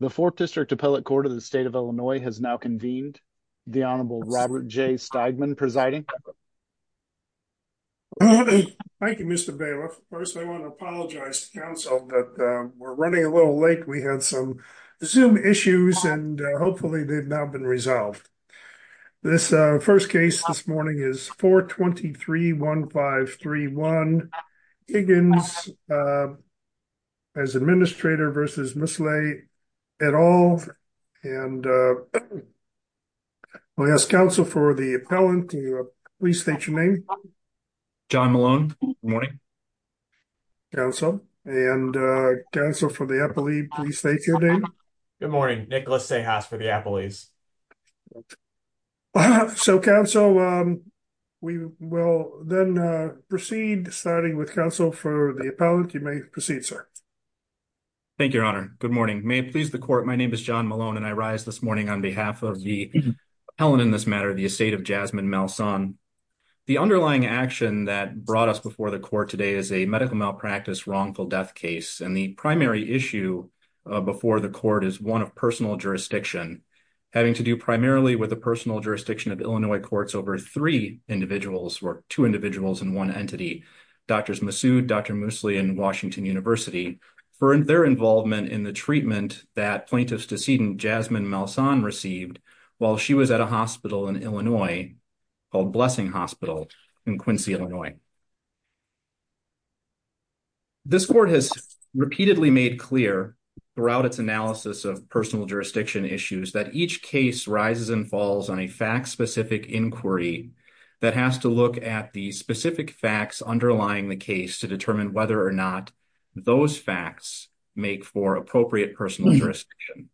The 4th District Appellate Court of the State of Illinois has now convened. The Honorable Robert J. Steigman presiding. Thank you, Mr. Bailiff. First, I want to apologize to Council that we're running a little late. We had some Zoom issues and hopefully they've now been resolved. This first case this morning is 423-1531. We have John Higgins as administrator versus Ms. Leigh et al. I'll ask Council for the appellant. Please state your name. John Malone. Good morning. Council. And Council for the appellee, please state your name. Good morning. Nicholas Sejas for the appellees. So, Council, we will then proceed starting with Council for the appellant. You may proceed, sir. Thank you, Your Honor. Good morning. May it please the Court, my name is John Malone and I rise this morning on behalf of the appellant in this matter, the estate of Jasmine Malson. The underlying action that brought us before the Court today is a medical malpractice wrongful death case. And the primary issue before the Court is one of personal jurisdiction, having to do primarily with the personal jurisdiction of Illinois courts over three individuals or two individuals in one entity. Drs. Massoud, Dr. Moosley, and Washington University for their involvement in the treatment that plaintiff's decedent Jasmine Malson received while she was at a hospital in Illinois called Blessing Hospital in Quincy, Illinois. This Court has repeatedly made clear throughout its analysis of personal jurisdiction issues that each case rises and falls on a fact-specific inquiry that has to look at the specific facts underlying the case to determine whether or not those facts make for appropriate personal jurisdiction.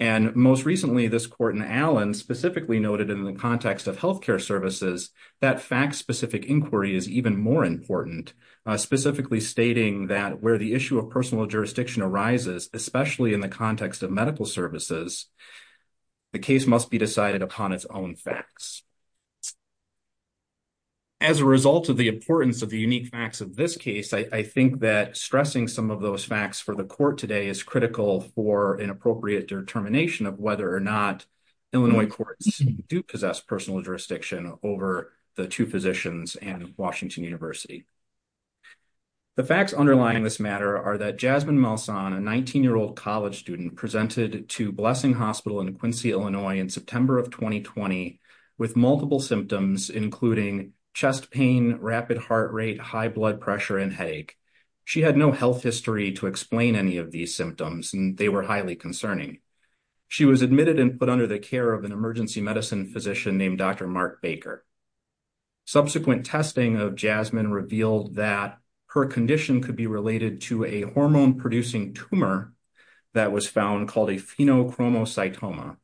And most recently, this Court in Allen specifically noted in the context of health care services that fact-specific inquiry is even more important, specifically stating that where the issue of personal jurisdiction arises, especially in the context of medical services, the case must be decided upon its own facts. As a result of the importance of the unique facts of this case, I think that stressing some of those facts for the Court today is critical for an appropriate determination of whether or not Illinois courts do possess personal jurisdiction over the two physicians and Washington University. The facts underlying this matter are that Jasmine Malson, a 19-year-old college student, presented to Blessing Hospital in Quincy, Illinois in September of 2020 with multiple symptoms, including chest pain, rapid heart rate, high blood pressure, and headache. She had no health history to explain any of these symptoms, and they were highly concerning. She was admitted and put under the care of an emergency medicine physician named Dr. Mark Baker. Subsequent testing of Jasmine revealed that her condition could be related to a hormone-producing tumor that was found called a phenochromocytoma.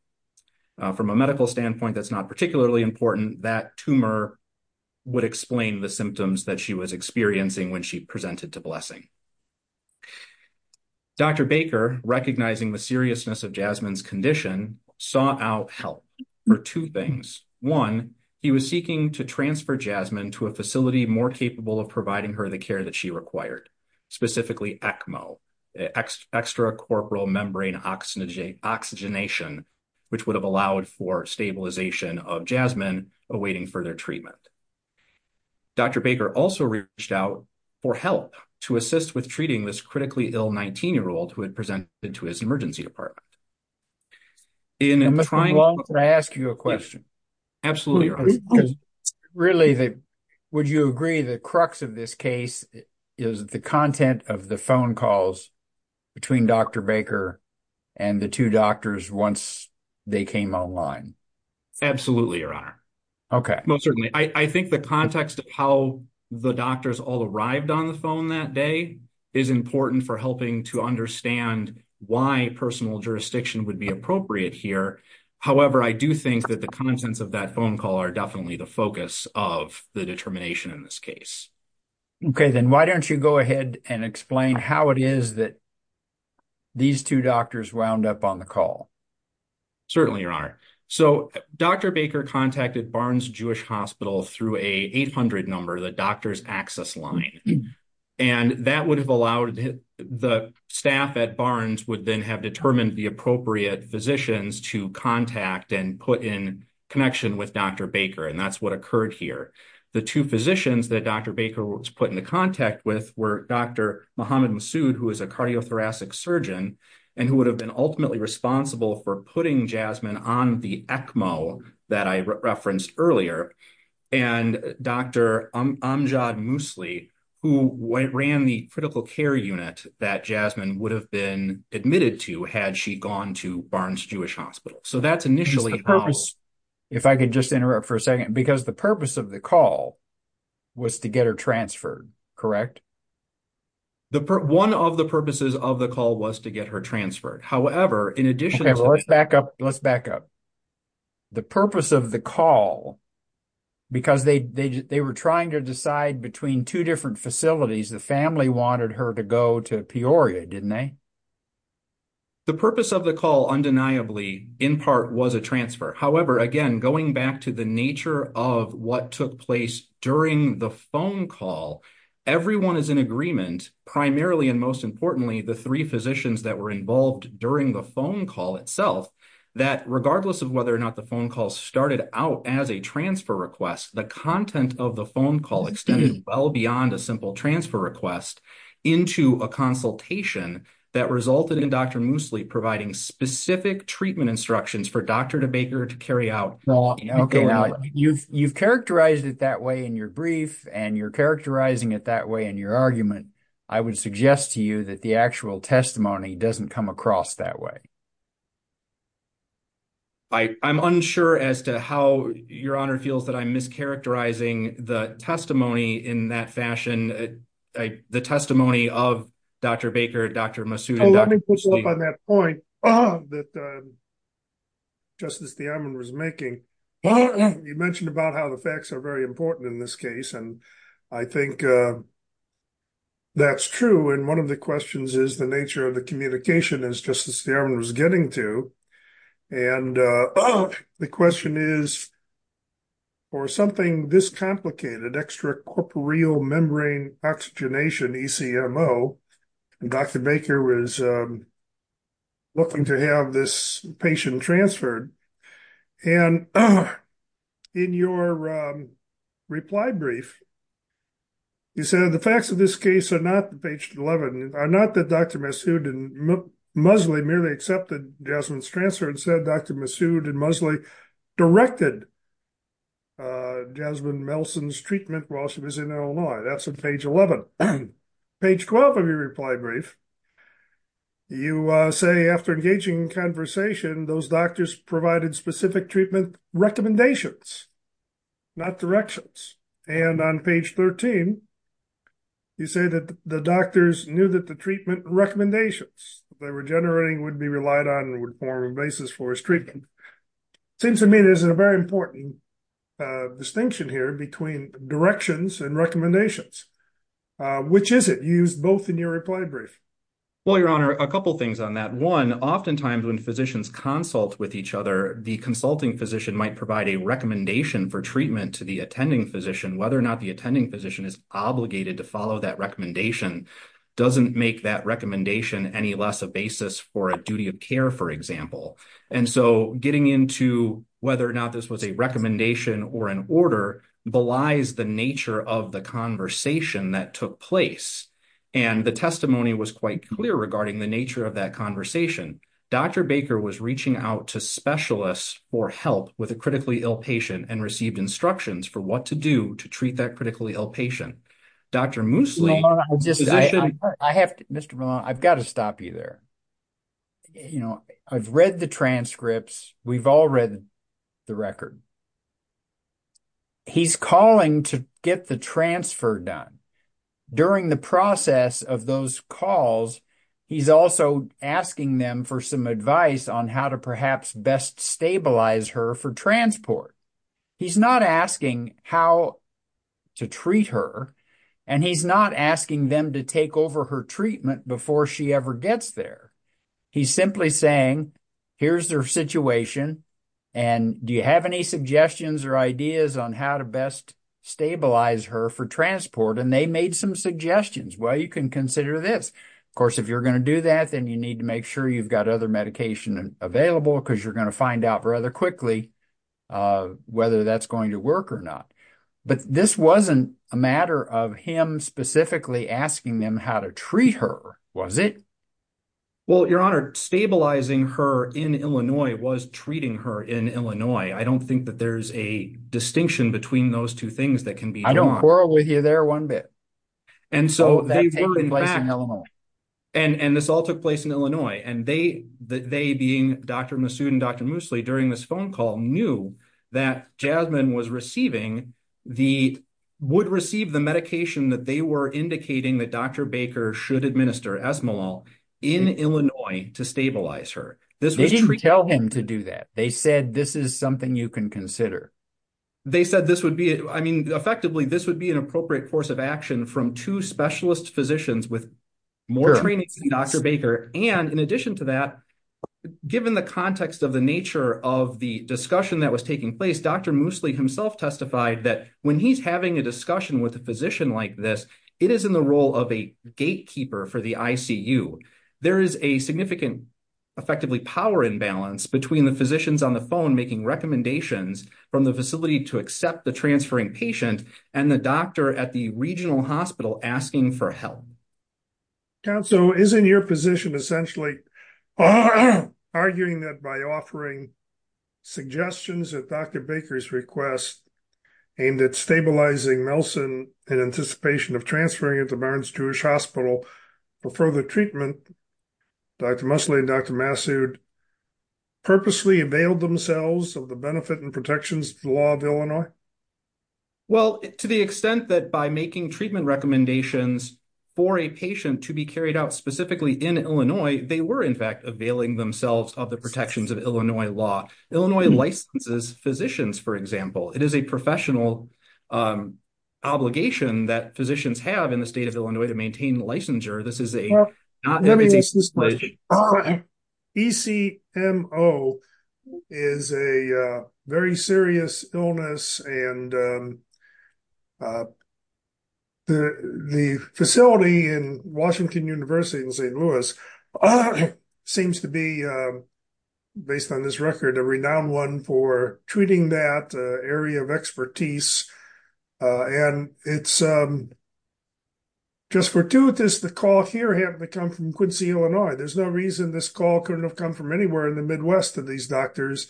From a medical standpoint, that's not particularly important. That tumor would explain the symptoms that she was experiencing when she presented to Blessing. Dr. Baker, recognizing the seriousness of Jasmine's condition, sought out help for two things. One, he was seeking to transfer Jasmine to a facility more capable of providing her the care that she required, specifically ECMO, extracorporeal membrane oxygenation, which would have allowed for stabilization of Jasmine awaiting further treatment. Dr. Baker also reached out for help to assist with treating this critically ill 19-year-old who had presented to his emergency department. I must move on before I ask you a question. Absolutely, Your Honor. Really, would you agree the crux of this case is the content of the phone calls between Dr. Baker and the two doctors once they came online? Absolutely, Your Honor. Okay. Most certainly. I think the context of how the doctors all arrived on the phone that day is important for helping to understand why personal jurisdiction would be appropriate here. However, I do think that the contents of that phone call are definitely the focus of the determination in this case. Okay, then why don't you go ahead and explain how it is that these two doctors wound up on the call? Certainly, Your Honor. So, Dr. Baker contacted Barnes Jewish Hospital through a 800 number, the doctor's access line. And that would have allowed the staff at Barnes would then have determined the appropriate physicians to contact and put in connection with Dr. Baker. And that's what occurred here. The two physicians that Dr. Baker was put into contact with were Dr. Mohammad Massoud, who is a cardiothoracic surgeon, and who would have been ultimately responsible for putting Jasmine on the ECMO that I referenced earlier. And Dr. Amjad Mousli, who ran the critical care unit that Jasmine would have been admitted to had she gone to Barnes Jewish Hospital. If I could just interrupt for a second, because the purpose of the call was to get her transferred, correct? One of the purposes of the call was to get her transferred. Let's back up. The purpose of the call, because they were trying to decide between two different facilities, the family wanted her to go to Peoria, didn't they? The purpose of the call, undeniably, in part, was a transfer. However, again, going back to the nature of what took place during the phone call, everyone is in agreement, primarily and most importantly, the three physicians that were involved during the phone call itself, that regardless of whether or not the phone call started out as a transfer request, the content of the phone call extended well beyond a simple transfer request into a consultation that resulted in Dr. Mousli providing specific treatment instructions for Dr. Baker to carry out. You've characterized it that way in your brief, and you're characterizing it that way in your argument. I would suggest to you that the actual testimony doesn't come across that way. I'm unsure as to how Your Honor feels that I'm mischaracterizing the testimony in that fashion, the testimony of Dr. Baker, Dr. Mousli. Well, let me push up on that point that Justice Thiamin was making. You mentioned about how the facts are very important in this case, and I think that's true. And one of the questions is the nature of the communication, as Justice Thiamin was getting to. And the question is, for something this complicated, extracorporeal membrane oxygenation, ECMO, Dr. Baker was looking to have this patient transferred. And in your reply brief, you said the facts of this case are not, page 11, are not that Dr. Masood and Mousli merely accepted Jasmine's transfer and said Dr. Masood and Mousli directed Jasmine Melson's treatment while she was in Illinois. That's on page 11. On page 12 of your reply brief, you say after engaging in conversation, those doctors provided specific treatment recommendations, not directions. And on page 13, you say that the doctors knew that the treatment recommendations they were generating would be relied on and would form a basis for his treatment. Seems to me there's a very important distinction here between directions and recommendations. Which is it? You used both in your reply brief. Well, Your Honor, a couple things on that. One, oftentimes when physicians consult with each other, the consulting physician might provide a recommendation for treatment to the attending physician. Whether or not the attending physician is obligated to follow that recommendation doesn't make that recommendation any less a basis for a duty of care, for example. And so getting into whether or not this was a recommendation or an order belies the nature of the conversation that took place. And the testimony was quite clear regarding the nature of that conversation. Dr. Baker was reaching out to specialists for help with a critically ill patient and received instructions for what to do to treat that critically ill patient. Dr. Moosley. Mr. Malone, I've got to stop you there. I've read the transcripts. We've all read the record. He's calling to get the transfer done. During the process of those calls, he's also asking them for some advice on how to perhaps best stabilize her for transport. He's not asking how to treat her, and he's not asking them to take over her treatment before she ever gets there. He's simply saying, here's their situation, and do you have any suggestions or ideas on how to best stabilize her for transport? And they made some suggestions. Well, you can consider this. Of course, if you're going to do that, then you need to make sure you've got other medication available because you're going to find out rather quickly whether that's going to work or not. But this wasn't a matter of him specifically asking them how to treat her, was it? Well, Your Honor, stabilizing her in Illinois was treating her in Illinois. I don't think that there's a distinction between those two things that can be drawn. I don't quarrel with you there one bit. So that took place in Illinois. And this all took place in Illinois. And they, being Dr. Massoud and Dr. Moosley, during this phone call knew that Jasmine would receive the medication that they were indicating that Dr. Baker should administer, Esmolol, in Illinois to stabilize her. They didn't tell him to do that. They said, this is something you can consider. They said this would be, I mean, effectively, this would be an appropriate course of action from two specialist physicians with more training than Dr. Baker. And in addition to that, given the context of the nature of the discussion that was taking place, Dr. Moosley himself testified that when he's having a discussion with a physician like this, it is in the role of a gatekeeper for the ICU. There is a significant, effectively, power imbalance between the physicians on the phone making recommendations from the facility to accept the transferring patient and the doctor at the regional hospital asking for help. Counsel, isn't your position essentially arguing that by offering suggestions that Dr. Baker's request aimed at stabilizing Nelson in anticipation of transferring into Barnes-Jewish Hospital for further treatment, Dr. Moosley and Dr. Massoud purposely availed themselves of the benefit and protections of the law of Illinois? Well, to the extent that by making treatment recommendations for a patient to be carried out specifically in Illinois, they were in fact availing themselves of the protections of Illinois law. Illinois licenses physicians, for example. It is a professional obligation that physicians have in the state of Illinois to maintain licensure. ECMO is a very serious illness and the facility in Washington University in St. Louis seems to be, based on this record, a renowned one for treating that area of expertise. And it's just fortuitous the call here happened to come from Quincy, Illinois. There's no reason this call couldn't have come from anywhere in the Midwest of these doctors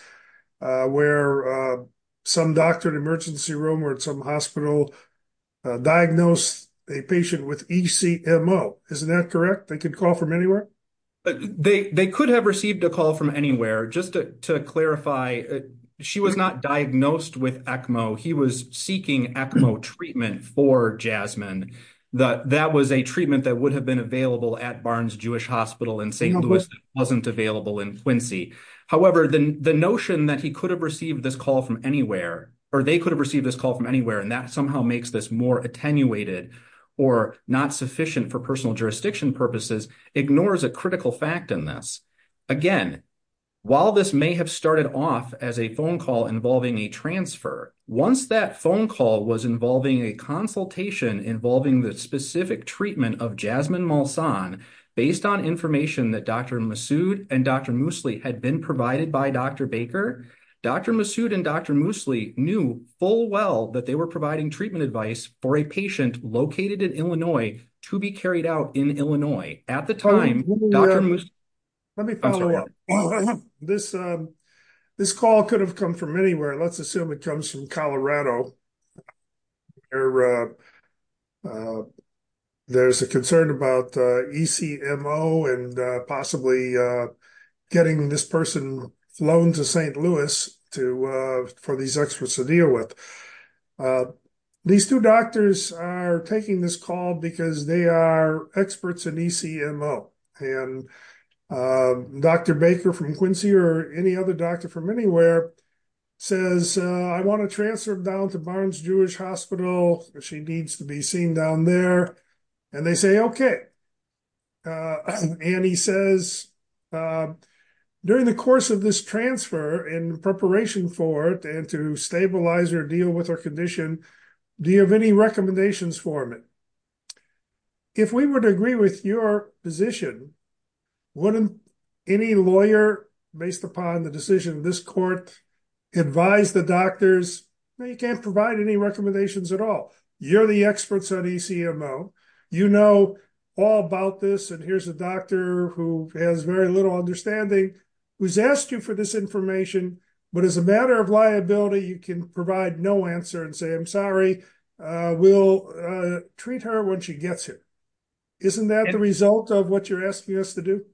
where some doctor in an emergency room or at some hospital diagnosed a patient with ECMO. Isn't that correct? They could call from anywhere? They could have received a call from anywhere. Just to clarify, she was not diagnosed with ECMO. He was seeking ECMO treatment for Jasmine. That was a treatment that would have been available at Barnes-Jewish Hospital in St. Louis that wasn't available in Quincy. However, the notion that he could have received this call from anywhere or they could have received this call from anywhere and that somehow makes this more attenuated or not sufficient for personal jurisdiction purposes ignores a critical fact in this. Again, while this may have started off as a phone call involving a transfer, once that phone call was involving a consultation involving the specific treatment of Jasmine Molson, based on information that Dr. Massoud and Dr. Moosley had been provided by Dr. Baker, Dr. Massoud and Dr. Moosley knew full well that they were providing treatment advice for a patient located in Illinois to be carried out in Illinois. At the time, Dr. Moosley... Let me follow up. This call could have come from anywhere. Let's assume it comes from Colorado. There's a concern about ECMO and possibly getting this person flown to St. Louis for these experts to deal with. These two doctors are taking this call because they are experts in ECMO and Dr. Baker from Quincy or any other doctor from anywhere says, I want to transfer down to Barnes-Jewish Hospital. She needs to be seen down there. And they say, okay. And he says, during the course of this transfer in preparation for it and to stabilize or deal with her condition, do you have any recommendations for me? If we were to agree with your position, wouldn't any lawyer, based upon the decision of this court, advise the doctors? No, you can't provide any recommendations at all. You're the experts on ECMO. You know all about this. And here's a doctor who has very little understanding, who's asked you for this information. But as a matter of liability, you can provide no answer and say, I'm sorry. We'll treat her when she gets here. Isn't that the result of what you're asking us to do?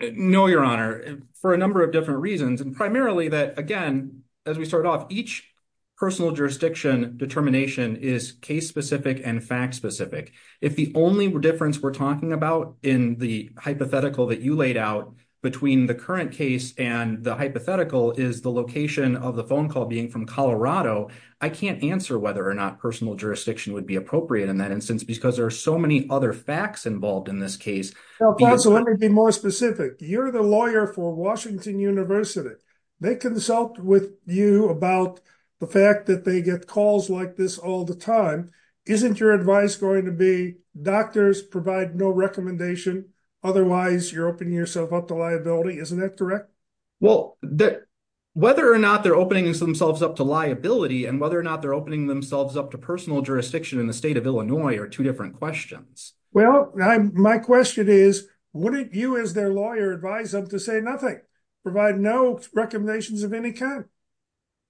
No, Your Honor, for a number of different reasons. And primarily that, again, as we start off, each personal jurisdiction determination is case-specific and fact-specific. If the only difference we're talking about in the hypothetical that you laid out between the current case and the hypothetical is the location of the phone call being from Colorado, I can't answer whether or not personal jurisdiction would be appropriate in that instance because there are so many other facts involved in this case. Let me be more specific. You're the lawyer for Washington University. They consult with you about the fact that they get calls like this all the time. Isn't your advice going to be doctors provide no recommendation? Otherwise, you're opening yourself up to liability. Isn't that correct? Well, whether or not they're opening themselves up to liability and whether or not they're opening themselves up to personal jurisdiction in the state of Illinois are two different questions. Well, my question is, wouldn't you as their lawyer advise them to say nothing, provide no recommendations of any kind?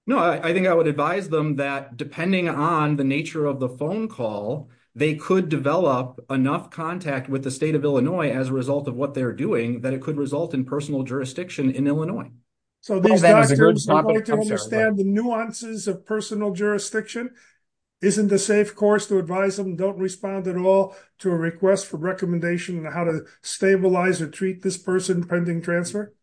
No, I think I would advise them that depending on the nature of the phone call, they could develop enough contact with the state of Illinois as a result of what they're doing that it could result in personal jurisdiction in Illinois. So these doctors are going to understand the nuances of personal jurisdiction. Isn't the safe course to advise them don't respond at all to a request for recommendation on how to stabilize or treat this person pending transfer?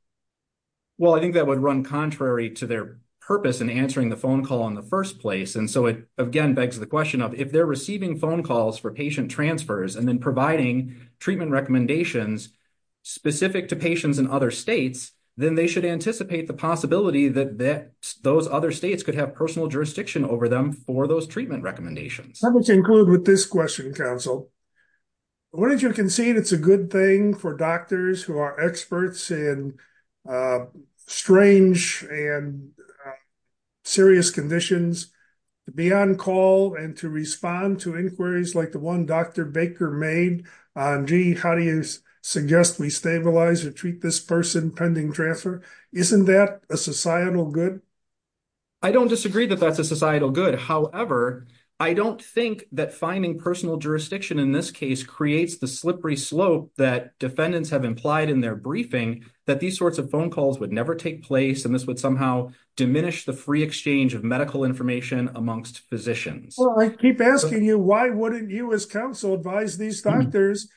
Well, I think that would run contrary to their purpose in answering the phone call in the first place. And so it again begs the question of if they're receiving phone calls for patient transfers and then providing treatment recommendations specific to patients in other states, then they should anticipate the possibility that those other states could have personal jurisdiction over them for those treatment recommendations. Let me conclude with this question, counsel. Wouldn't you concede it's a good thing for doctors who are experts in strange and serious conditions to be on call and to respond to inquiries like the one Dr. Baker made on, gee, how do you suggest we stabilize or treat this person pending transfer? Isn't that a societal good? I don't disagree that that's a societal good. However, I don't think that finding personal jurisdiction in this case creates the slippery slope that defendants have implied in their briefing that these sorts of phone calls would never take place. And this would somehow diminish the free exchange of medical information amongst physicians. I keep asking you, why wouldn't you as counsel advise these doctors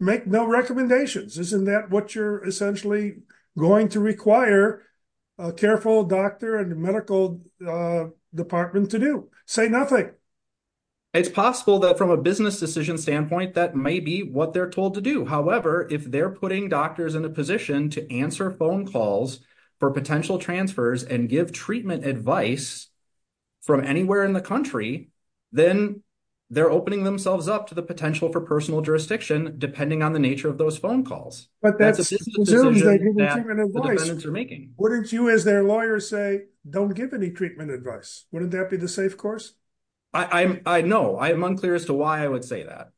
make no recommendations? Isn't that what you're essentially going to require a careful doctor and medical department to do? Say nothing. It's possible that from a business decision standpoint, that may be what they're told to do. However, if they're putting doctors in a position to answer phone calls for potential transfers and give treatment advice from anywhere in the country, then they're opening themselves up to the potential for personal jurisdiction, depending on the nature of those phone calls. But that's a business decision that the defendants are making. Wouldn't you as their lawyer say, don't give any treatment advice? Wouldn't that be the safe course? No, I am unclear as to why I would say that.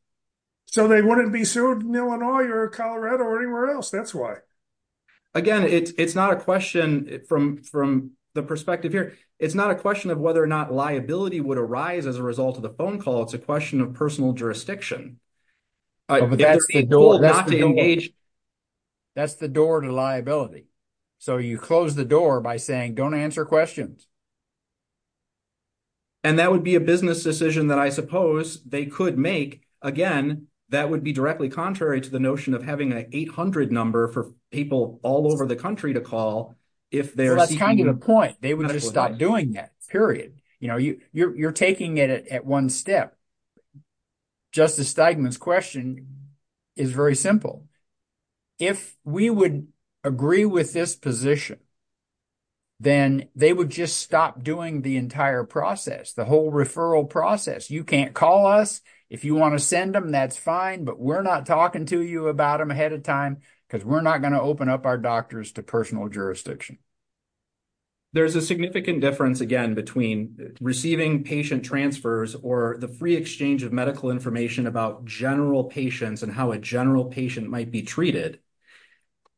So they wouldn't be sued in Illinois or Colorado or anywhere else, that's why. Again, it's not a question from the perspective here. It's not a question of whether or not liability would arise as a result of the phone call. It's a question of personal jurisdiction. That's the door to liability. So you close the door by saying, don't answer questions. And that would be a business decision that I suppose they could make. Again, that would be directly contrary to the notion of having an 800 number for people all over the country to call if they're seeking – That's kind of the point. They would just stop doing that, period. You're taking it at one step. Justice Steigman's question is very simple. If we would agree with this position, then they would just stop doing the entire process, the whole referral process. You can't call us. If you want to send them, that's fine. But we're not talking to you about them ahead of time because we're not going to open up our doctors to personal jurisdiction. There's a significant difference, again, between receiving patient transfers or the free exchange of medical information about general patients and how a general patient might be treated,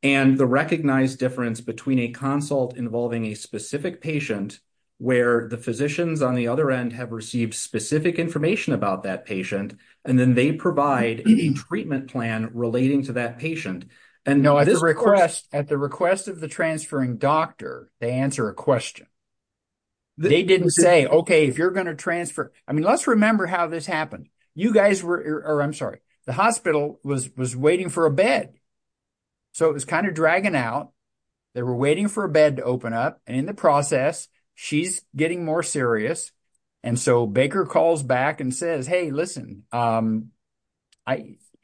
and the recognized difference between a consult involving a specific patient where the physicians on the other end have received specific information about that patient, and then they provide a treatment plan relating to that patient. At the request of the transferring doctor, they answer a question. They didn't say, OK, if you're going to transfer – I mean let's remember how this happened. You guys were – or I'm sorry. The hospital was waiting for a bed. So it was kind of dragging out. They were waiting for a bed to open up, and in the process, she's getting more serious. And so Baker calls back and says, hey, listen,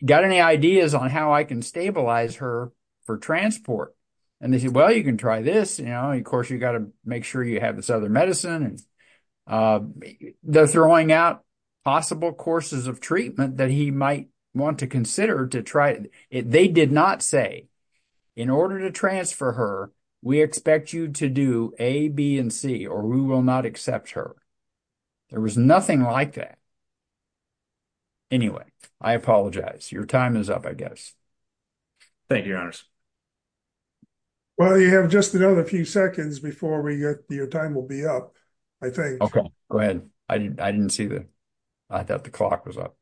got any ideas on how I can stabilize her for transport? And they said, well, you can try this. Of course, you've got to make sure you have this other medicine. They're throwing out possible courses of treatment that he might want to consider to try. They did not say, in order to transfer her, we expect you to do A, B, and C, or we will not accept her. There was nothing like that. Anyway, I apologize. Your time is up, I guess. Thank you, your honors. Well, you have just another few seconds before we get – your time will be up, I think. OK, go ahead. I didn't see the – I thought the clock was up.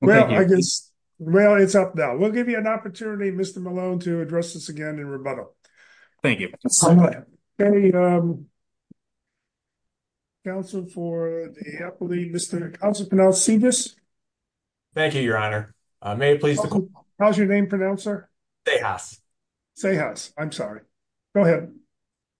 Well, I guess – well, it's up now. We'll give you an opportunity, Mr. Malone, to address this again in rebuttal. Thank you. OK. Counsel for the appellee, Mr. Counselor Penal, see this? Thank you, your honor. How's your name pronounced, sir? Sejas. I'm sorry. Go ahead.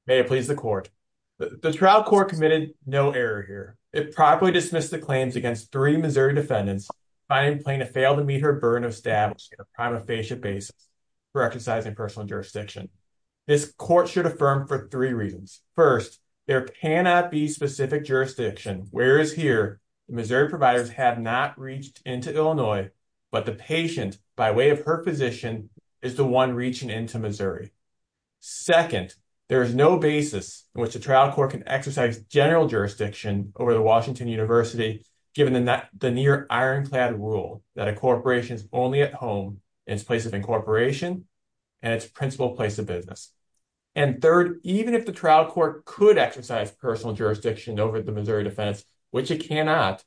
May it please the court. The trial court committed no error here. It properly dismissed the claims against three Missouri defendants, finding Plaintiff failed to meet her burden of stabbing on a prima facie basis for exercising personal jurisdiction. This court should affirm for three reasons. First, there cannot be specific jurisdiction. Whereas here, the Missouri providers have not reached into Illinois, but the patient, by way of her position, is the one reaching into Missouri. Second, there is no basis in which the trial court can exercise general jurisdiction over the Washington University, given the near ironclad rule that a corporation is only at home in its place of incorporation and its principal place of business. And third, even if the trial court could exercise personal jurisdiction over the Missouri defense, which it cannot,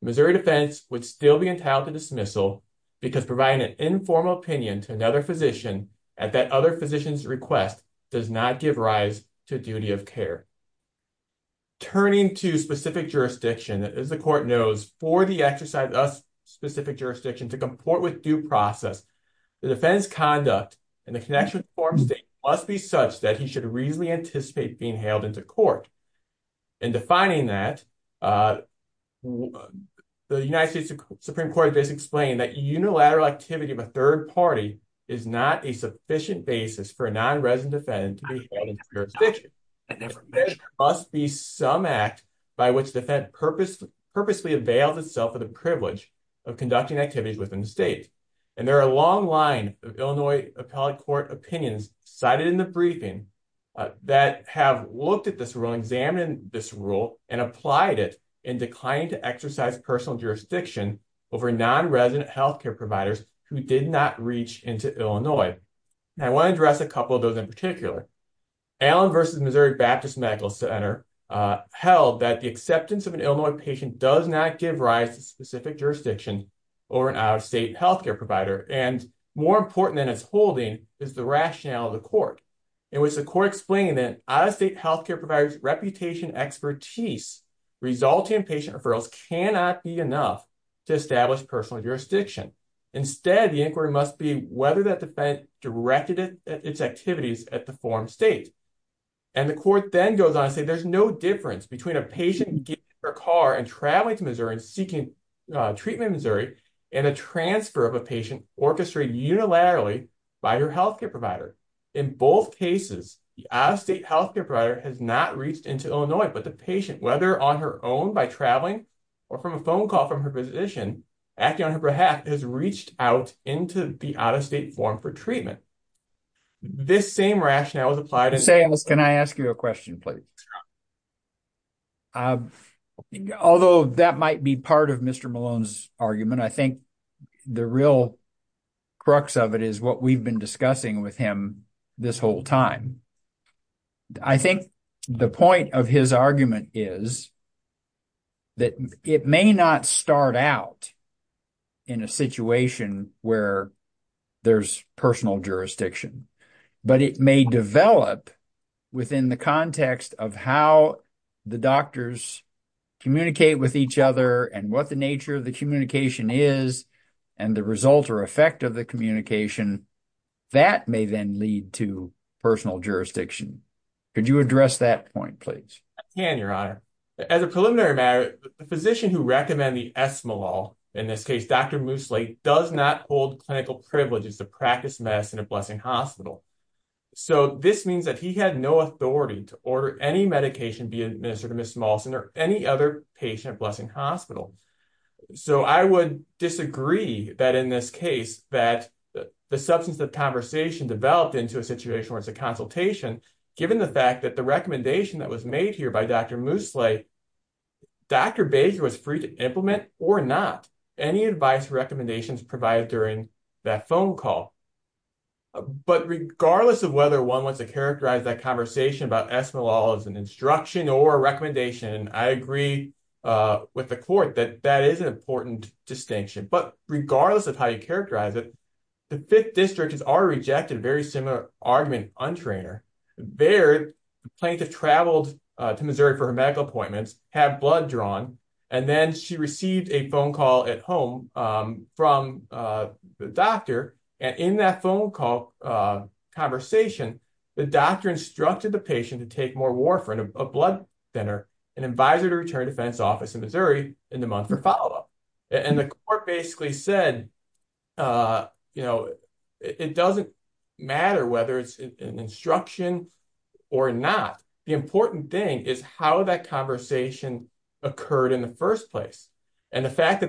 the Missouri defense would still be entitled to dismissal because providing an informal opinion to another physician at that other physician's request does not give rise to duty of care. Turning to specific jurisdiction, as the court knows, for the exercise of specific jurisdiction to comport with due process, the defendant's conduct and the connection with the foreign state must be such that he should reasonably anticipate being hailed into court. In defining that, the United States Supreme Court has explained that unilateral activity of a third party is not a sufficient basis for a non-resident defendant to be hailed into jurisdiction. There must be some act by which the defendant purposely avails itself of the privilege of conducting activities within the state. There is a long line of Illinois appellate court opinions cited in the briefing that have looked at this rule, examined this rule, and applied it in declining to exercise personal jurisdiction over non-resident health care providers who did not reach into Illinois. And I want to address a couple of those in particular. Allen v. Missouri Baptist Medical Center held that the acceptance of an Illinois patient does not give rise to specific jurisdiction over an out-of-state health care provider and more important than its holding is the rationale of the court. It was the court explaining that out-of-state health care providers' reputation, expertise resulting in patient referrals cannot be enough to establish personal jurisdiction. Instead, the inquiry must be whether that defendant directed its activities at the foreign state. And the court then goes on to say there's no difference between a patient getting their car and traveling to Missouri and seeking treatment in Missouri and a transfer of a patient orchestrated unilaterally by their health care provider. In both cases, the out-of-state health care provider has not reached into Illinois, but the patient, whether on her own by traveling or from a phone call from her physician acting on her behalf, has reached out into the out-of-state form for treatment. This same rationale is applied in... Ms. Sayles, can I ask you a question, please? Sure. Although that might be part of Mr. Malone's argument, I think the real crux of it is what we've been discussing with him this whole time. I think the point of his argument is that it may not start out in a situation where there's personal jurisdiction, but it may develop within the context of how the doctors communicate with each other and what the nature of the communication is and the result or effect of the communication. That may then lead to personal jurisdiction. Could you address that point, please? I can, Your Honor. As a preliminary matter, the physician who recommended the esmolol, in this case Dr. Mooslake, does not hold clinical privileges to practice medicine at Blessing Hospital. This means that he had no authority to order any medication be administered to Ms. Smallson or any other patient at Blessing Hospital. I would disagree that in this case the substance of the conversation developed into a situation where it's a consultation, given the fact that the recommendation that was made here by Dr. Mooslake, Dr. Baker was free to implement or not any advice or recommendations provided during that phone call. But regardless of whether one wants to characterize that conversation about esmolol as an instruction or a recommendation, I agree with the court that that is an important distinction. But regardless of how you characterize it, the Fifth District has already rejected a very similar argument on Traynor. There, the plaintiff traveled to Missouri for her medical appointments, had blood drawn, and then she received a phone call at home from the doctor. And in that phone call conversation, the doctor instructed the patient to take more warfarin, a blood thinner, and advised her to return to the defense office in Missouri in the month for follow-up. And the court basically said, you know, it doesn't matter whether it's an instruction or not. The important thing is how that conversation occurred in the first place. The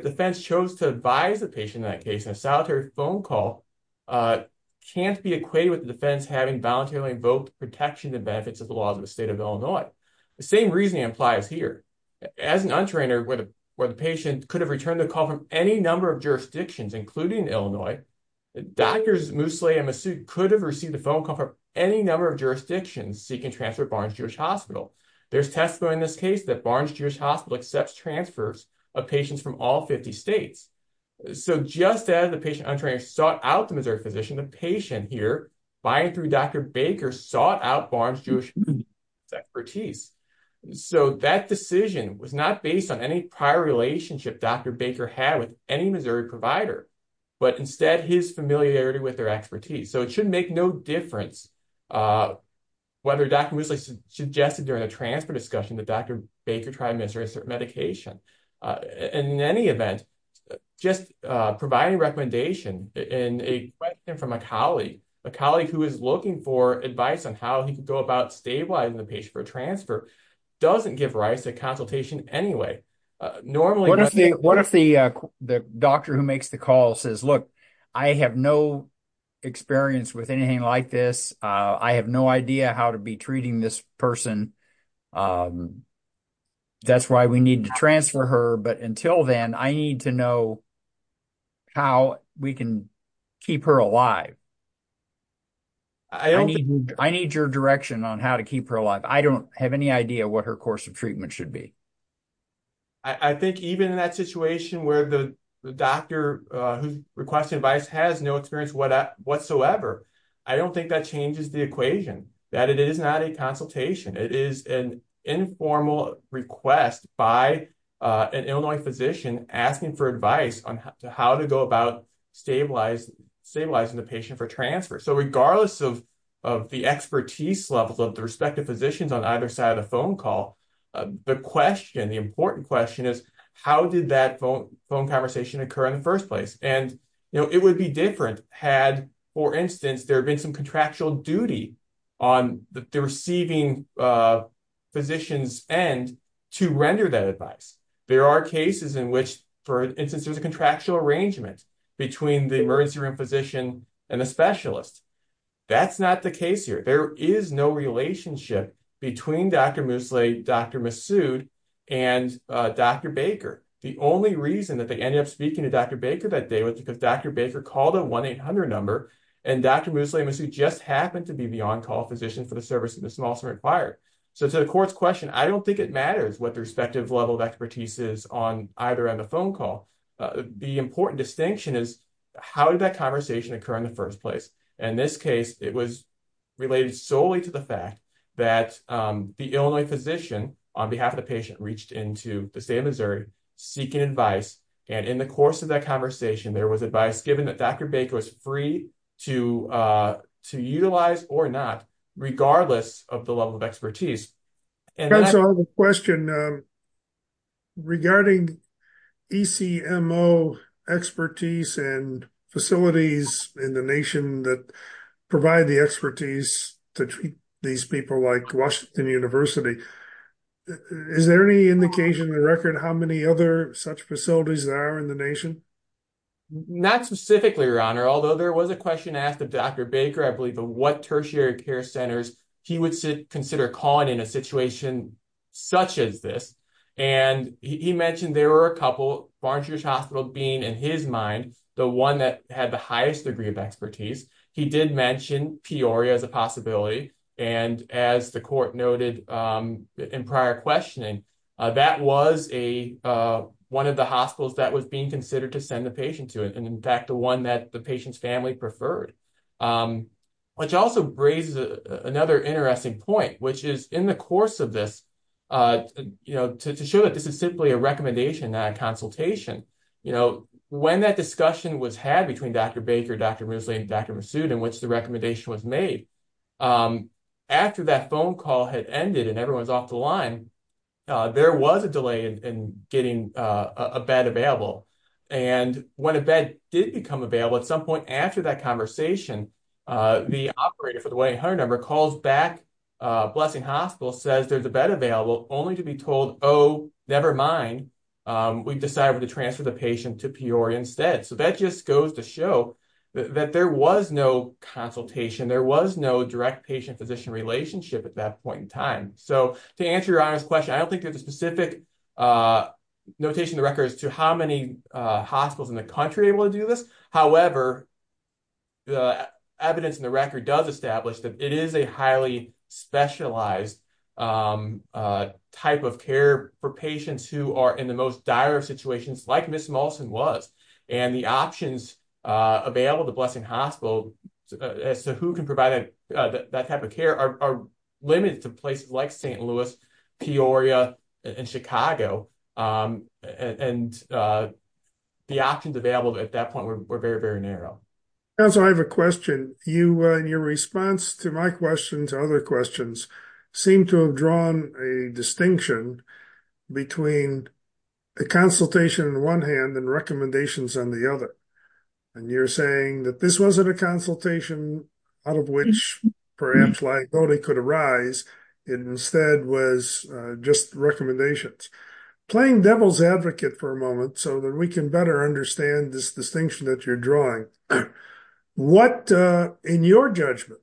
defense chose to advise the patient in that case, and a solitary phone call can't be equated with the defense having voluntarily invoked protection and benefits of the laws of the state of Illinois. The same reasoning applies here. As an untrainer, where the patient could have returned the call from any number of jurisdictions, including Illinois, Drs. Mooslake and Massoud could have received a phone call from any number of jurisdictions seeking to transfer to Barnes-Jewish Hospital. There's testimony in this case that Barnes-Jewish Hospital accepts transfers of patients from all 50 states. So just as the patient untrained sought out the Missouri physician, the patient here, by and through Dr. Baker, sought out Barnes-Jewish Hospital's expertise. So that decision was not based on any prior relationship Dr. Baker had with any Missouri provider, but instead his familiarity with their expertise. So it should make no difference whether Dr. Mooslake suggested during the transfer discussion that Dr. Baker tried the medication. In any event, just providing recommendation and a question from a colleague, a colleague who is looking for advice on how he could go about stabilizing the patient for a transfer doesn't give rise to consultation anyway. Normally... What if the doctor who makes the call says, look, I have no experience with anything like this. I have no idea how to be treating this person. That's why we need to transfer her. But until then, I need to know how we can keep her alive. I need your direction on how to keep her alive. I don't have any idea what her course of treatment should be. I think even in that situation where the doctor who's requesting advice has no experience whatsoever, I don't think that changes the equation, that it is not a consultation. It is an informal request by an Illinois physician asking for advice on how to go about stabilizing the patient for transfer. So regardless of the expertise levels of the respective physicians on either side of the phone call, the question, the important question is, how did that phone conversation occur in the first place? And it would be different had, for instance, there been some contractual duty on the receiving physician's end to render that advice. There are cases in which, for instance, there's a contractual arrangement between the emergency room physician and the specialist. That's not the case here. There is no relationship between Dr. Mousselet, Dr. Massoud, and Dr. Baker. The only reason that they ended up speaking to Dr. Baker that day was because Dr. Baker called a 1-800 number, and Dr. Mousselet and Dr. Massoud just happened to be the on-call physician for the service of the Small Cemetery Choir. So to the court's question, I don't think it matters what the respective level of expertise is on either end of the phone call. The important distinction is, how did that conversation occur in the first place? In this case, it was related solely to the fact that the Illinois physician, on behalf of the patient, reached into the state of Missouri seeking advice, and in the course of that conversation, there was advice given that Dr. Baker was free to utilize or not, regardless of the level of expertise. And that's all the question. Regarding ECMO expertise and facilities in the nation that provide the expertise to treat these people like Washington University, is there any indication in the record how many other such facilities there are in the nation? Not specifically, Your Honor, but the question asked of Dr. Baker, I believe, of what tertiary care centers he would consider calling in a situation such as this. And he mentioned there were a couple, Farnsworth Hospital being, in his mind, the one that had the highest degree of expertise. He did mention Peoria as a possibility. And as the court noted in prior questioning, that was one of the hospitals that was being considered to send the patient to. And in fact, the one that the patient's family had referred. Which also raises another interesting point, which is in the course of this, to show that this is simply a recommendation, not a consultation, when that discussion was had between Dr. Baker, Dr. Moosley, and Dr. Massoud, in which the recommendation was made, after that phone call had ended and everyone was off the line, there was a delay in getting a bed available. And when a bed did become available, at some point after that conversation, the operator for the 1-800 number calls back Blessing Hospital, says there's a bed available, only to be told, oh, never mind, we've decided to transfer the patient to Peoria instead. So that just goes to show that there was no consultation, there was no direct patient-physician relationship at that point in time. So to answer your honest question, I don't think there's a specific notation in the records to how many hospitals in the country are able to do this. However, the evidence in the record does establish that it is a highly specialized type of care for patients who are in the most dire of situations, like Ms. Molson was. And the options available to Blessing Hospital as to who can provide that type of care are limited to places like St. Louis, Peoria, and Chicago. And the options available at that point are very, very narrow. So I have a question. Your response to my questions, other questions, seem to have drawn a distinction between a consultation on one hand and recommendations on the other. And you're saying that this wasn't a consultation out of which perhaps liability could arise, it instead was just recommendations. Playing devil's advocate for a moment so that we can better understand this distinction that you're drawing. What, in your judgment,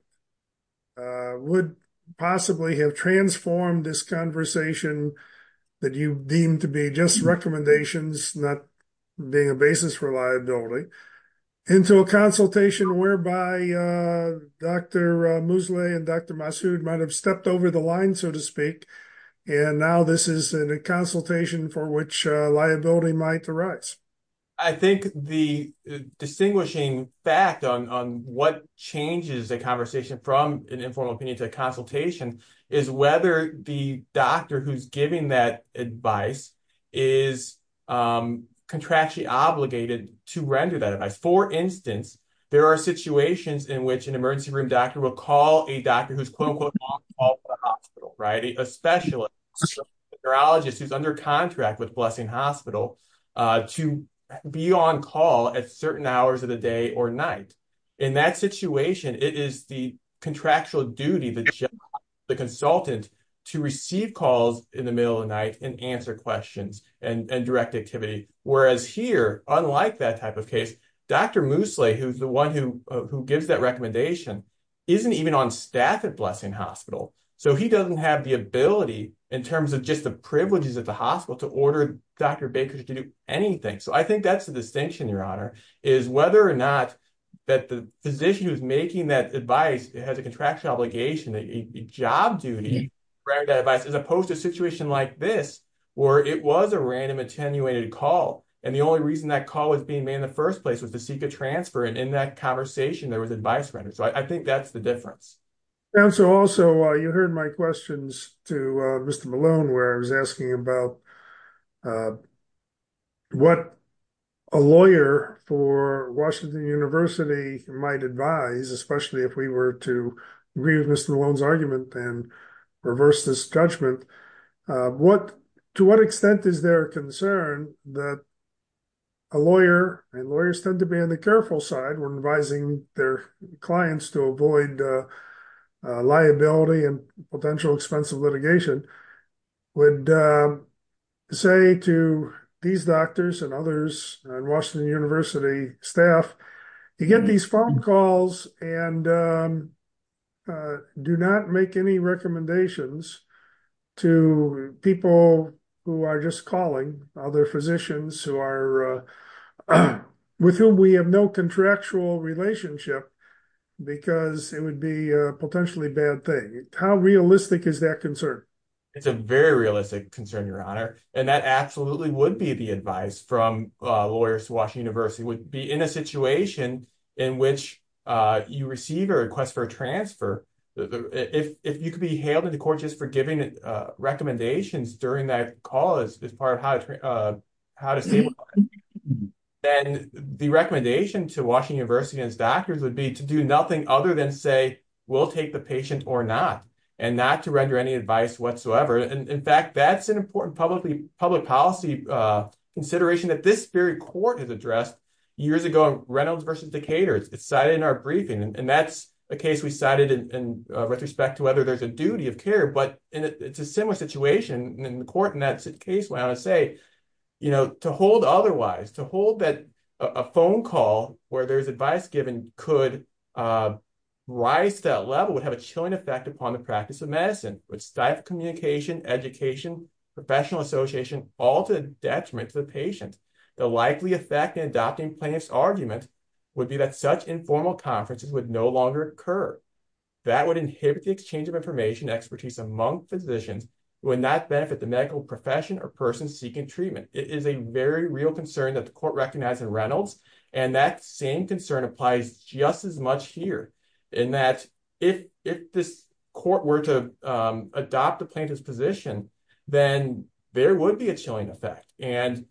would possibly have transformed this conversation that you deem to be just recommendations not being a basis for liability into a consultation whereby Dr. Mousselet and Dr. Massoud might have stepped over the line, so to speak, and now this is in a consultation for which liability might arise? I think the distinguishing fact on what changes a conversation from an informal opinion to a consultation is whether the doctor who's giving that advice is contractually obligated to render that advice. For instance, there are situations in which an emergency room doctor will call a doctor who's quote, unquote not qualified for the hospital, right? A specialist, a neurologist who's under contract with Blessing Hospital can be on call at certain hours of the day or night. In that situation, it is the contractual duty, the job of the consultant to receive calls in the middle of the night and answer questions and direct activity, whereas here, unlike that type of case, Dr. Mousselet, who's the one who gives that recommendation, isn't even on staff at Blessing Hospital, so he doesn't have the ability in terms of just the privileges at the hospital to order Dr. Bakers to do anything. So I think that's the distinction, Your Honor, is whether or not that the physician who's making that advice has a contractual obligation, a job duty to render that advice as opposed to a situation like this where it was a random attenuated call and the only reason that call was being made in the first place was to seek a transfer and in that conversation there was advice rendered. So I think that's the difference. And so also, you heard my questions to Mr. Malone, where I was asking about what a lawyer for Washington University might advise, especially if we were to agree with Mr. Malone's argument and reverse this judgment. To what extent is there a concern that a lawyer, and lawyers tend to be on the careful side when advising their clients to avoid liability and potential expensive litigation, would say to these doctors and others and Washington University staff, you get these phone calls and do not make any recommendations to people who are just calling, other physicians who are, with whom we have no contractual relationship because it would be a very bad thing. How realistic is that concern? It's a very realistic concern, Your Honor. And that absolutely would be the advice from lawyers to Washington University. It would be in a situation in which you receive a request for a transfer. If you could be hailed into court just for giving recommendations during that call as part of how to stabilize, then the recommendation to Washington University and its doctors would be to do nothing other than say, or not, and not to render any advice whatsoever. In fact, that's an important public policy consideration that this very court has addressed years ago in Reynolds v. Decatur. It's cited in our briefing, and that's a case we cited in retrospect to whether there's a duty of care, but it's a similar situation in the court in that case, where I want to say, to hold otherwise, to hold that a phone call where there's advice given would have a negative effect upon the practice of medicine, would stifle communication, education, professional association, all to the detriment to the patient. The likely effect in adopting plaintiff's argument would be that such informal conferences would no longer occur. That would inhibit the exchange of information and expertise among physicians who would not benefit the medical profession or person seeking treatment. It is a very real concern that the court recognized in Reynolds, and that same concern applies just as much here in that if this court were to adopt a plaintiff's position, then there would be a chilling effect, and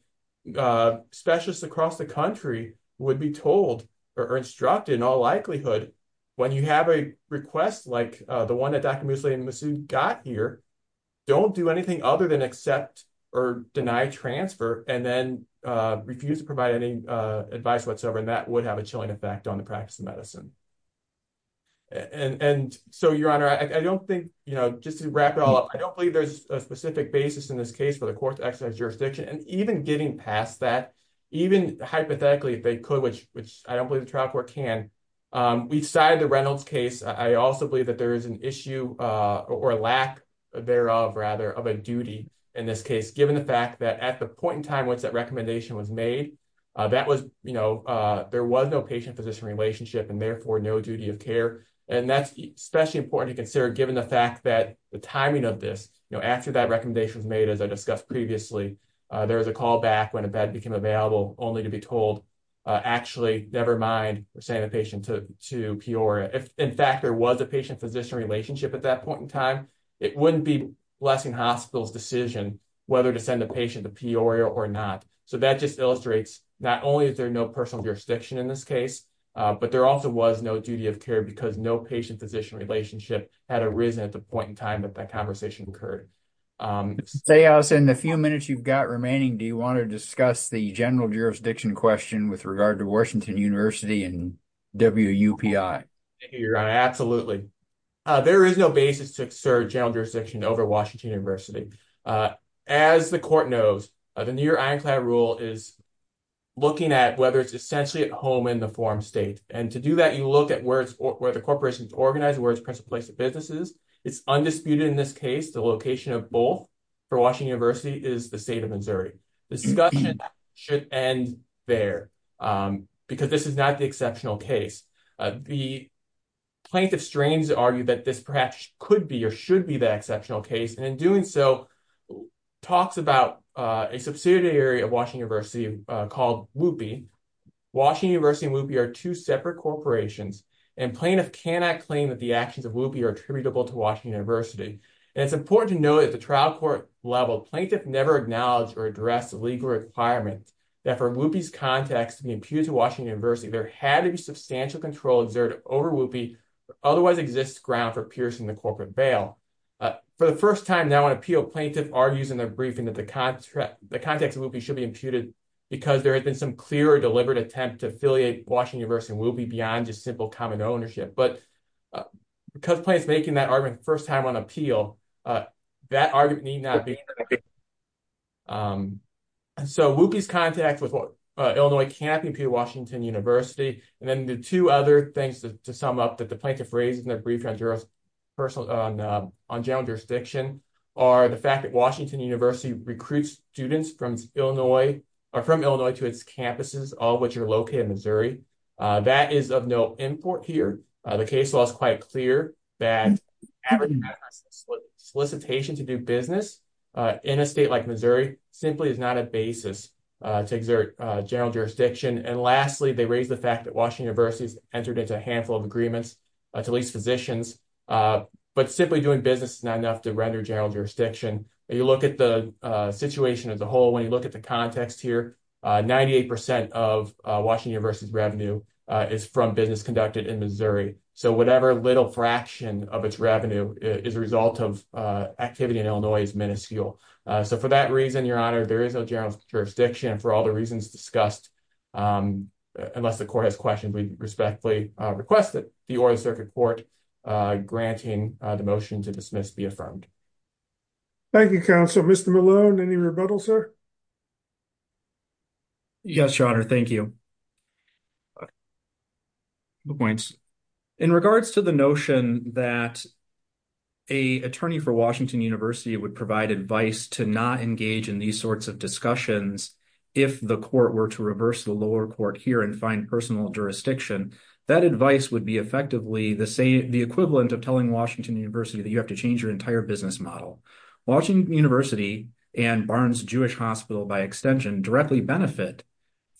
specialists across the country would be told or instructed in all likelihood, when you have a request like the one that Dr. Museli-Masoud got here, don't do anything other than accept or deny transfer and then refuse to provide any advice whatsoever, and that would have a chilling effect on the practice of medicine. And so, Your Honor, I don't think, you know, just to wrap it all up, I don't believe there's a specific basis in this case for the court to exercise jurisdiction, and even getting past that, even hypothetically, if they could, which I don't believe the trial court can, we've cited the Reynolds case. I also believe that there is an issue or lack thereof, rather, of a duty in this case, that was, you know, there was no patient-physician relationship and therefore no duty of care, and that's especially important to consider given the fact that the timing of this, you know, after that recommendation was made, as I discussed previously, there was a call back when a bed became available only to be told, actually, never mind, send the patient to Peoria. If, in fact, there was a patient-physician relationship at that point in time, not only is there no personal jurisdiction in this case, but there also was no duty of care because no patient-physician relationship had arisen at the point in time that that conversation occurred. Say, Allison, in the few minutes you've got remaining, do you want to discuss the general jurisdiction question with regard to Washington University and WUPI? Absolutely. There is no basis to exert general jurisdiction over Washington University. As the court knows, the New York ironclad rule is looking at whether it's essentially at home in the form state. And to do that, you look at where the corporation is organized, where it's placed in businesses. It's undisputed in this case the location of both for Washington University is the state of Missouri. Discussion should end there because this is not the exceptional case. The plaintiff's strains argue that this perhaps could be or should be the exceptional case. And in doing so, there's a subsidiary of Washington University called WUPI. Washington University and WUPI are two separate corporations. And plaintiff cannot claim that the actions of WUPI are attributable to Washington University. And it's important to note at the trial court level, plaintiff never acknowledged or addressed the legal requirement that for WUPI's context to be imputed to Washington University, there had to be substantial control exerted over WUPI and the context of WUPI should be imputed because there had been some clear or deliberate attempt to affiliate Washington University and WUPI beyond just simple common ownership. But because plaintiff's making that argument the first time on appeal, that argument need not be. And so WUPI's context with Illinois cannot be imputed to Washington University. And then the two other things to sum up that the plaintiff raised in their brief on general jurisdiction are the fact that Washington University comes from Illinois, or from Illinois to its campuses, all of which are located in Missouri. That is of no import here. The case law is quite clear that average solicitation to do business in a state like Missouri simply is not a basis to exert general jurisdiction. And lastly, they raise the fact that Washington University has entered into a handful of agreements to lease physicians, but simply doing business is not enough to render general jurisdiction. If you look at the situation as a whole, when you look at the context here, 98% of Washington University's revenue is from business conducted in Missouri. So whatever little fraction of its revenue is a result of activity in Illinois is minuscule. So for that reason, Your Honor, there is no general jurisdiction for all the reasons discussed, unless the court has questions we respectfully request that the Oral Circuit Court granting the motion to dismiss be affirmed. Thank you, Counsel. Mr. Malone, any rebuttal, sir? Yes, Your Honor. Thank you. No points. In regards to the notion that an attorney for Washington University would provide advice to not engage in these sorts of discussions if the court were to reverse the lower court here and find personal jurisdiction, that advice would be effectively the equivalent of telling Washington University that you have to change your entire business model. Washington University and Barnes-Jewish Hospital by extension directly benefit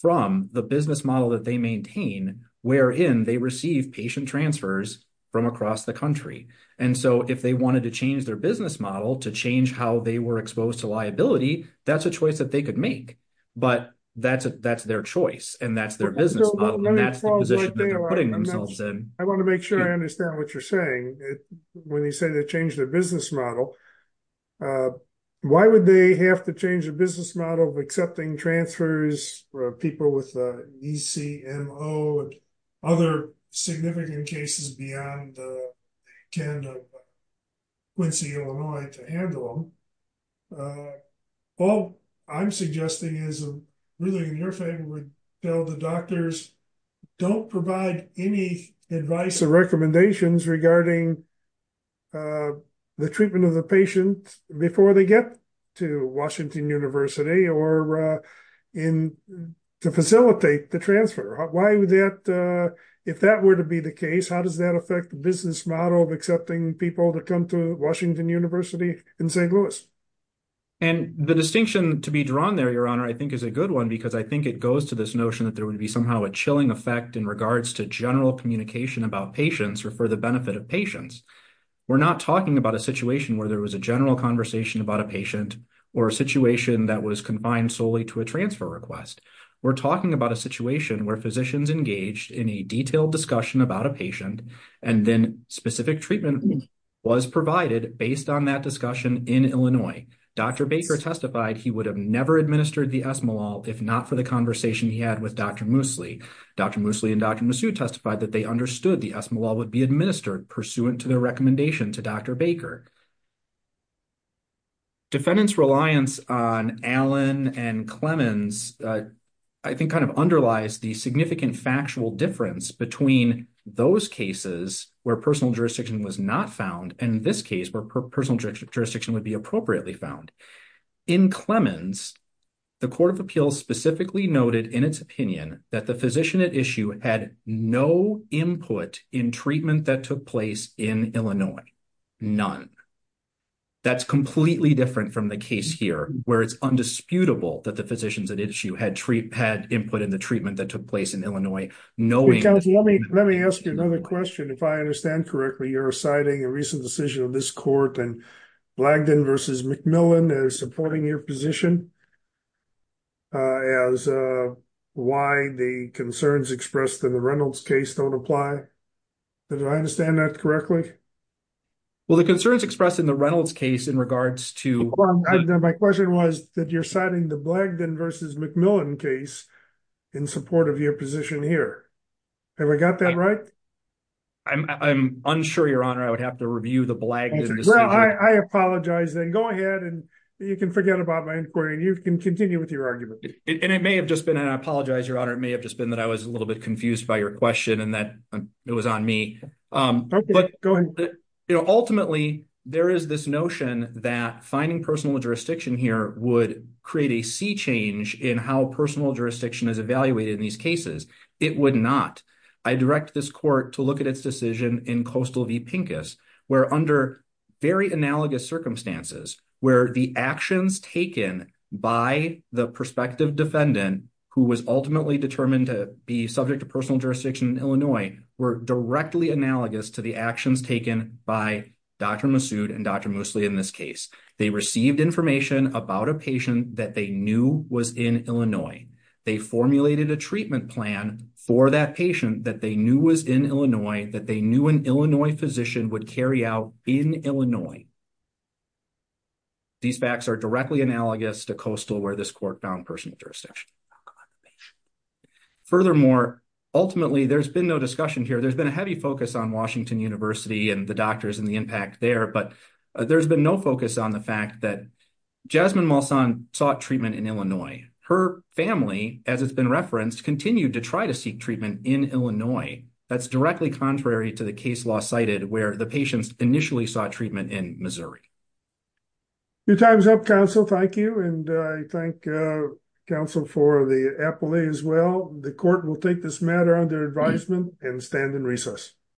from the business model that they maintain, wherein they receive patient transfers from across the country. And so if they wanted to change their business model to change how they were exposed to liability, that's a choice that they could make. But that's their choice that they're putting themselves in. I want to make sure I understand what you're saying when you say they change their business model. Why would they have to change their business model of accepting transfers for people with ECMO and other significant cases beyond the can of Quincy, Illinois to handle them? All I'm suggesting is really in your favor would tell the doctors to provide any advice or recommendations regarding the treatment of the patient before they get to Washington University or to facilitate the transfer. If that were to be the case, how does that affect the business model of accepting people to come to Washington University in St. Louis? And the distinction to be drawn there, Your Honor, I think is a good one because I think it goes to this notion that there would be somehow a chilling effect in regards to general communication about patients or for the benefit of patients. We're not talking about a situation where there was a general conversation about a patient or a situation that was confined solely to a transfer request. We're talking about a situation where physicians engaged in a detailed discussion about a patient who understood the esmolol if not for the conversation he had with Dr. Moosley. Dr. Moosley and Dr. Massieu testified that they understood the esmolol would be administered pursuant to their recommendation to Dr. Baker. Defendants' reliance on Allen and Clemens I think kind of underlies the significant factual difference between those cases where personal jurisdiction was not found and in this case where personal jurisdiction would be appropriately found. In Clemens, the Court of Appeals specifically noted in its opinion that the physician at issue had no input in treatment that took place in Illinois. None. That's completely different from the case here where it's undisputable that the physicians at issue had input in the treatment that took place in Illinois. Let me ask you another question. If I understand correctly, you're citing a recent decision of this court and Blagdon v. McMillan as supporting your position as why the concerns expressed in the Reynolds case don't apply. Do I understand that correctly? Well, the concerns expressed in the Reynolds case in regards to... My question was that you're citing the Blagdon v. McMillan case in support of your position here. Have I got that right? I'm unsure, Your Honor. I would have to review the Blagdon decision. Well, I apologize then. Go ahead and you can forget about my inquiry and you can continue with your argument. And I apologize, Your Honor. It may have just been that I was a little bit confused by your question and that it was on me. Ultimately, there is this notion that finding personal jurisdiction here would create a sea change in how personal jurisdiction is evaluated in these cases. It would not. I direct this court to look at its decision in Coastal v. Pincus where under very analogous circumstances where the actions taken by the prospective defendant who was ultimately determined to be subject to personal jurisdiction in Illinois were directly analogous to the actions taken by Dr. Masood and Dr. Moosley in this case. They received information about a patient that they knew was in Illinois. They formulated a treatment plan for that patient that they knew was in Illinois, that they knew an Illinois physician would carry out in Illinois. These facts are directly analogous to Coastal where this court found personal jurisdiction. Furthermore, ultimately, there's been no discussion here. There's been a heavy focus on Washington University and the doctors and the impact there, but there's been no focus on the fact that Jasmine Molson sought treatment in Illinois. Her family, as it's been referenced, continued to try to seek treatment in Illinois. That's directly contrary to the case law cited where the patients initially sought treatment in Missouri. Your time is up, counsel. Thank you. And I thank counsel for the appellee as well. The court will take this matter under advisement and stand in recess.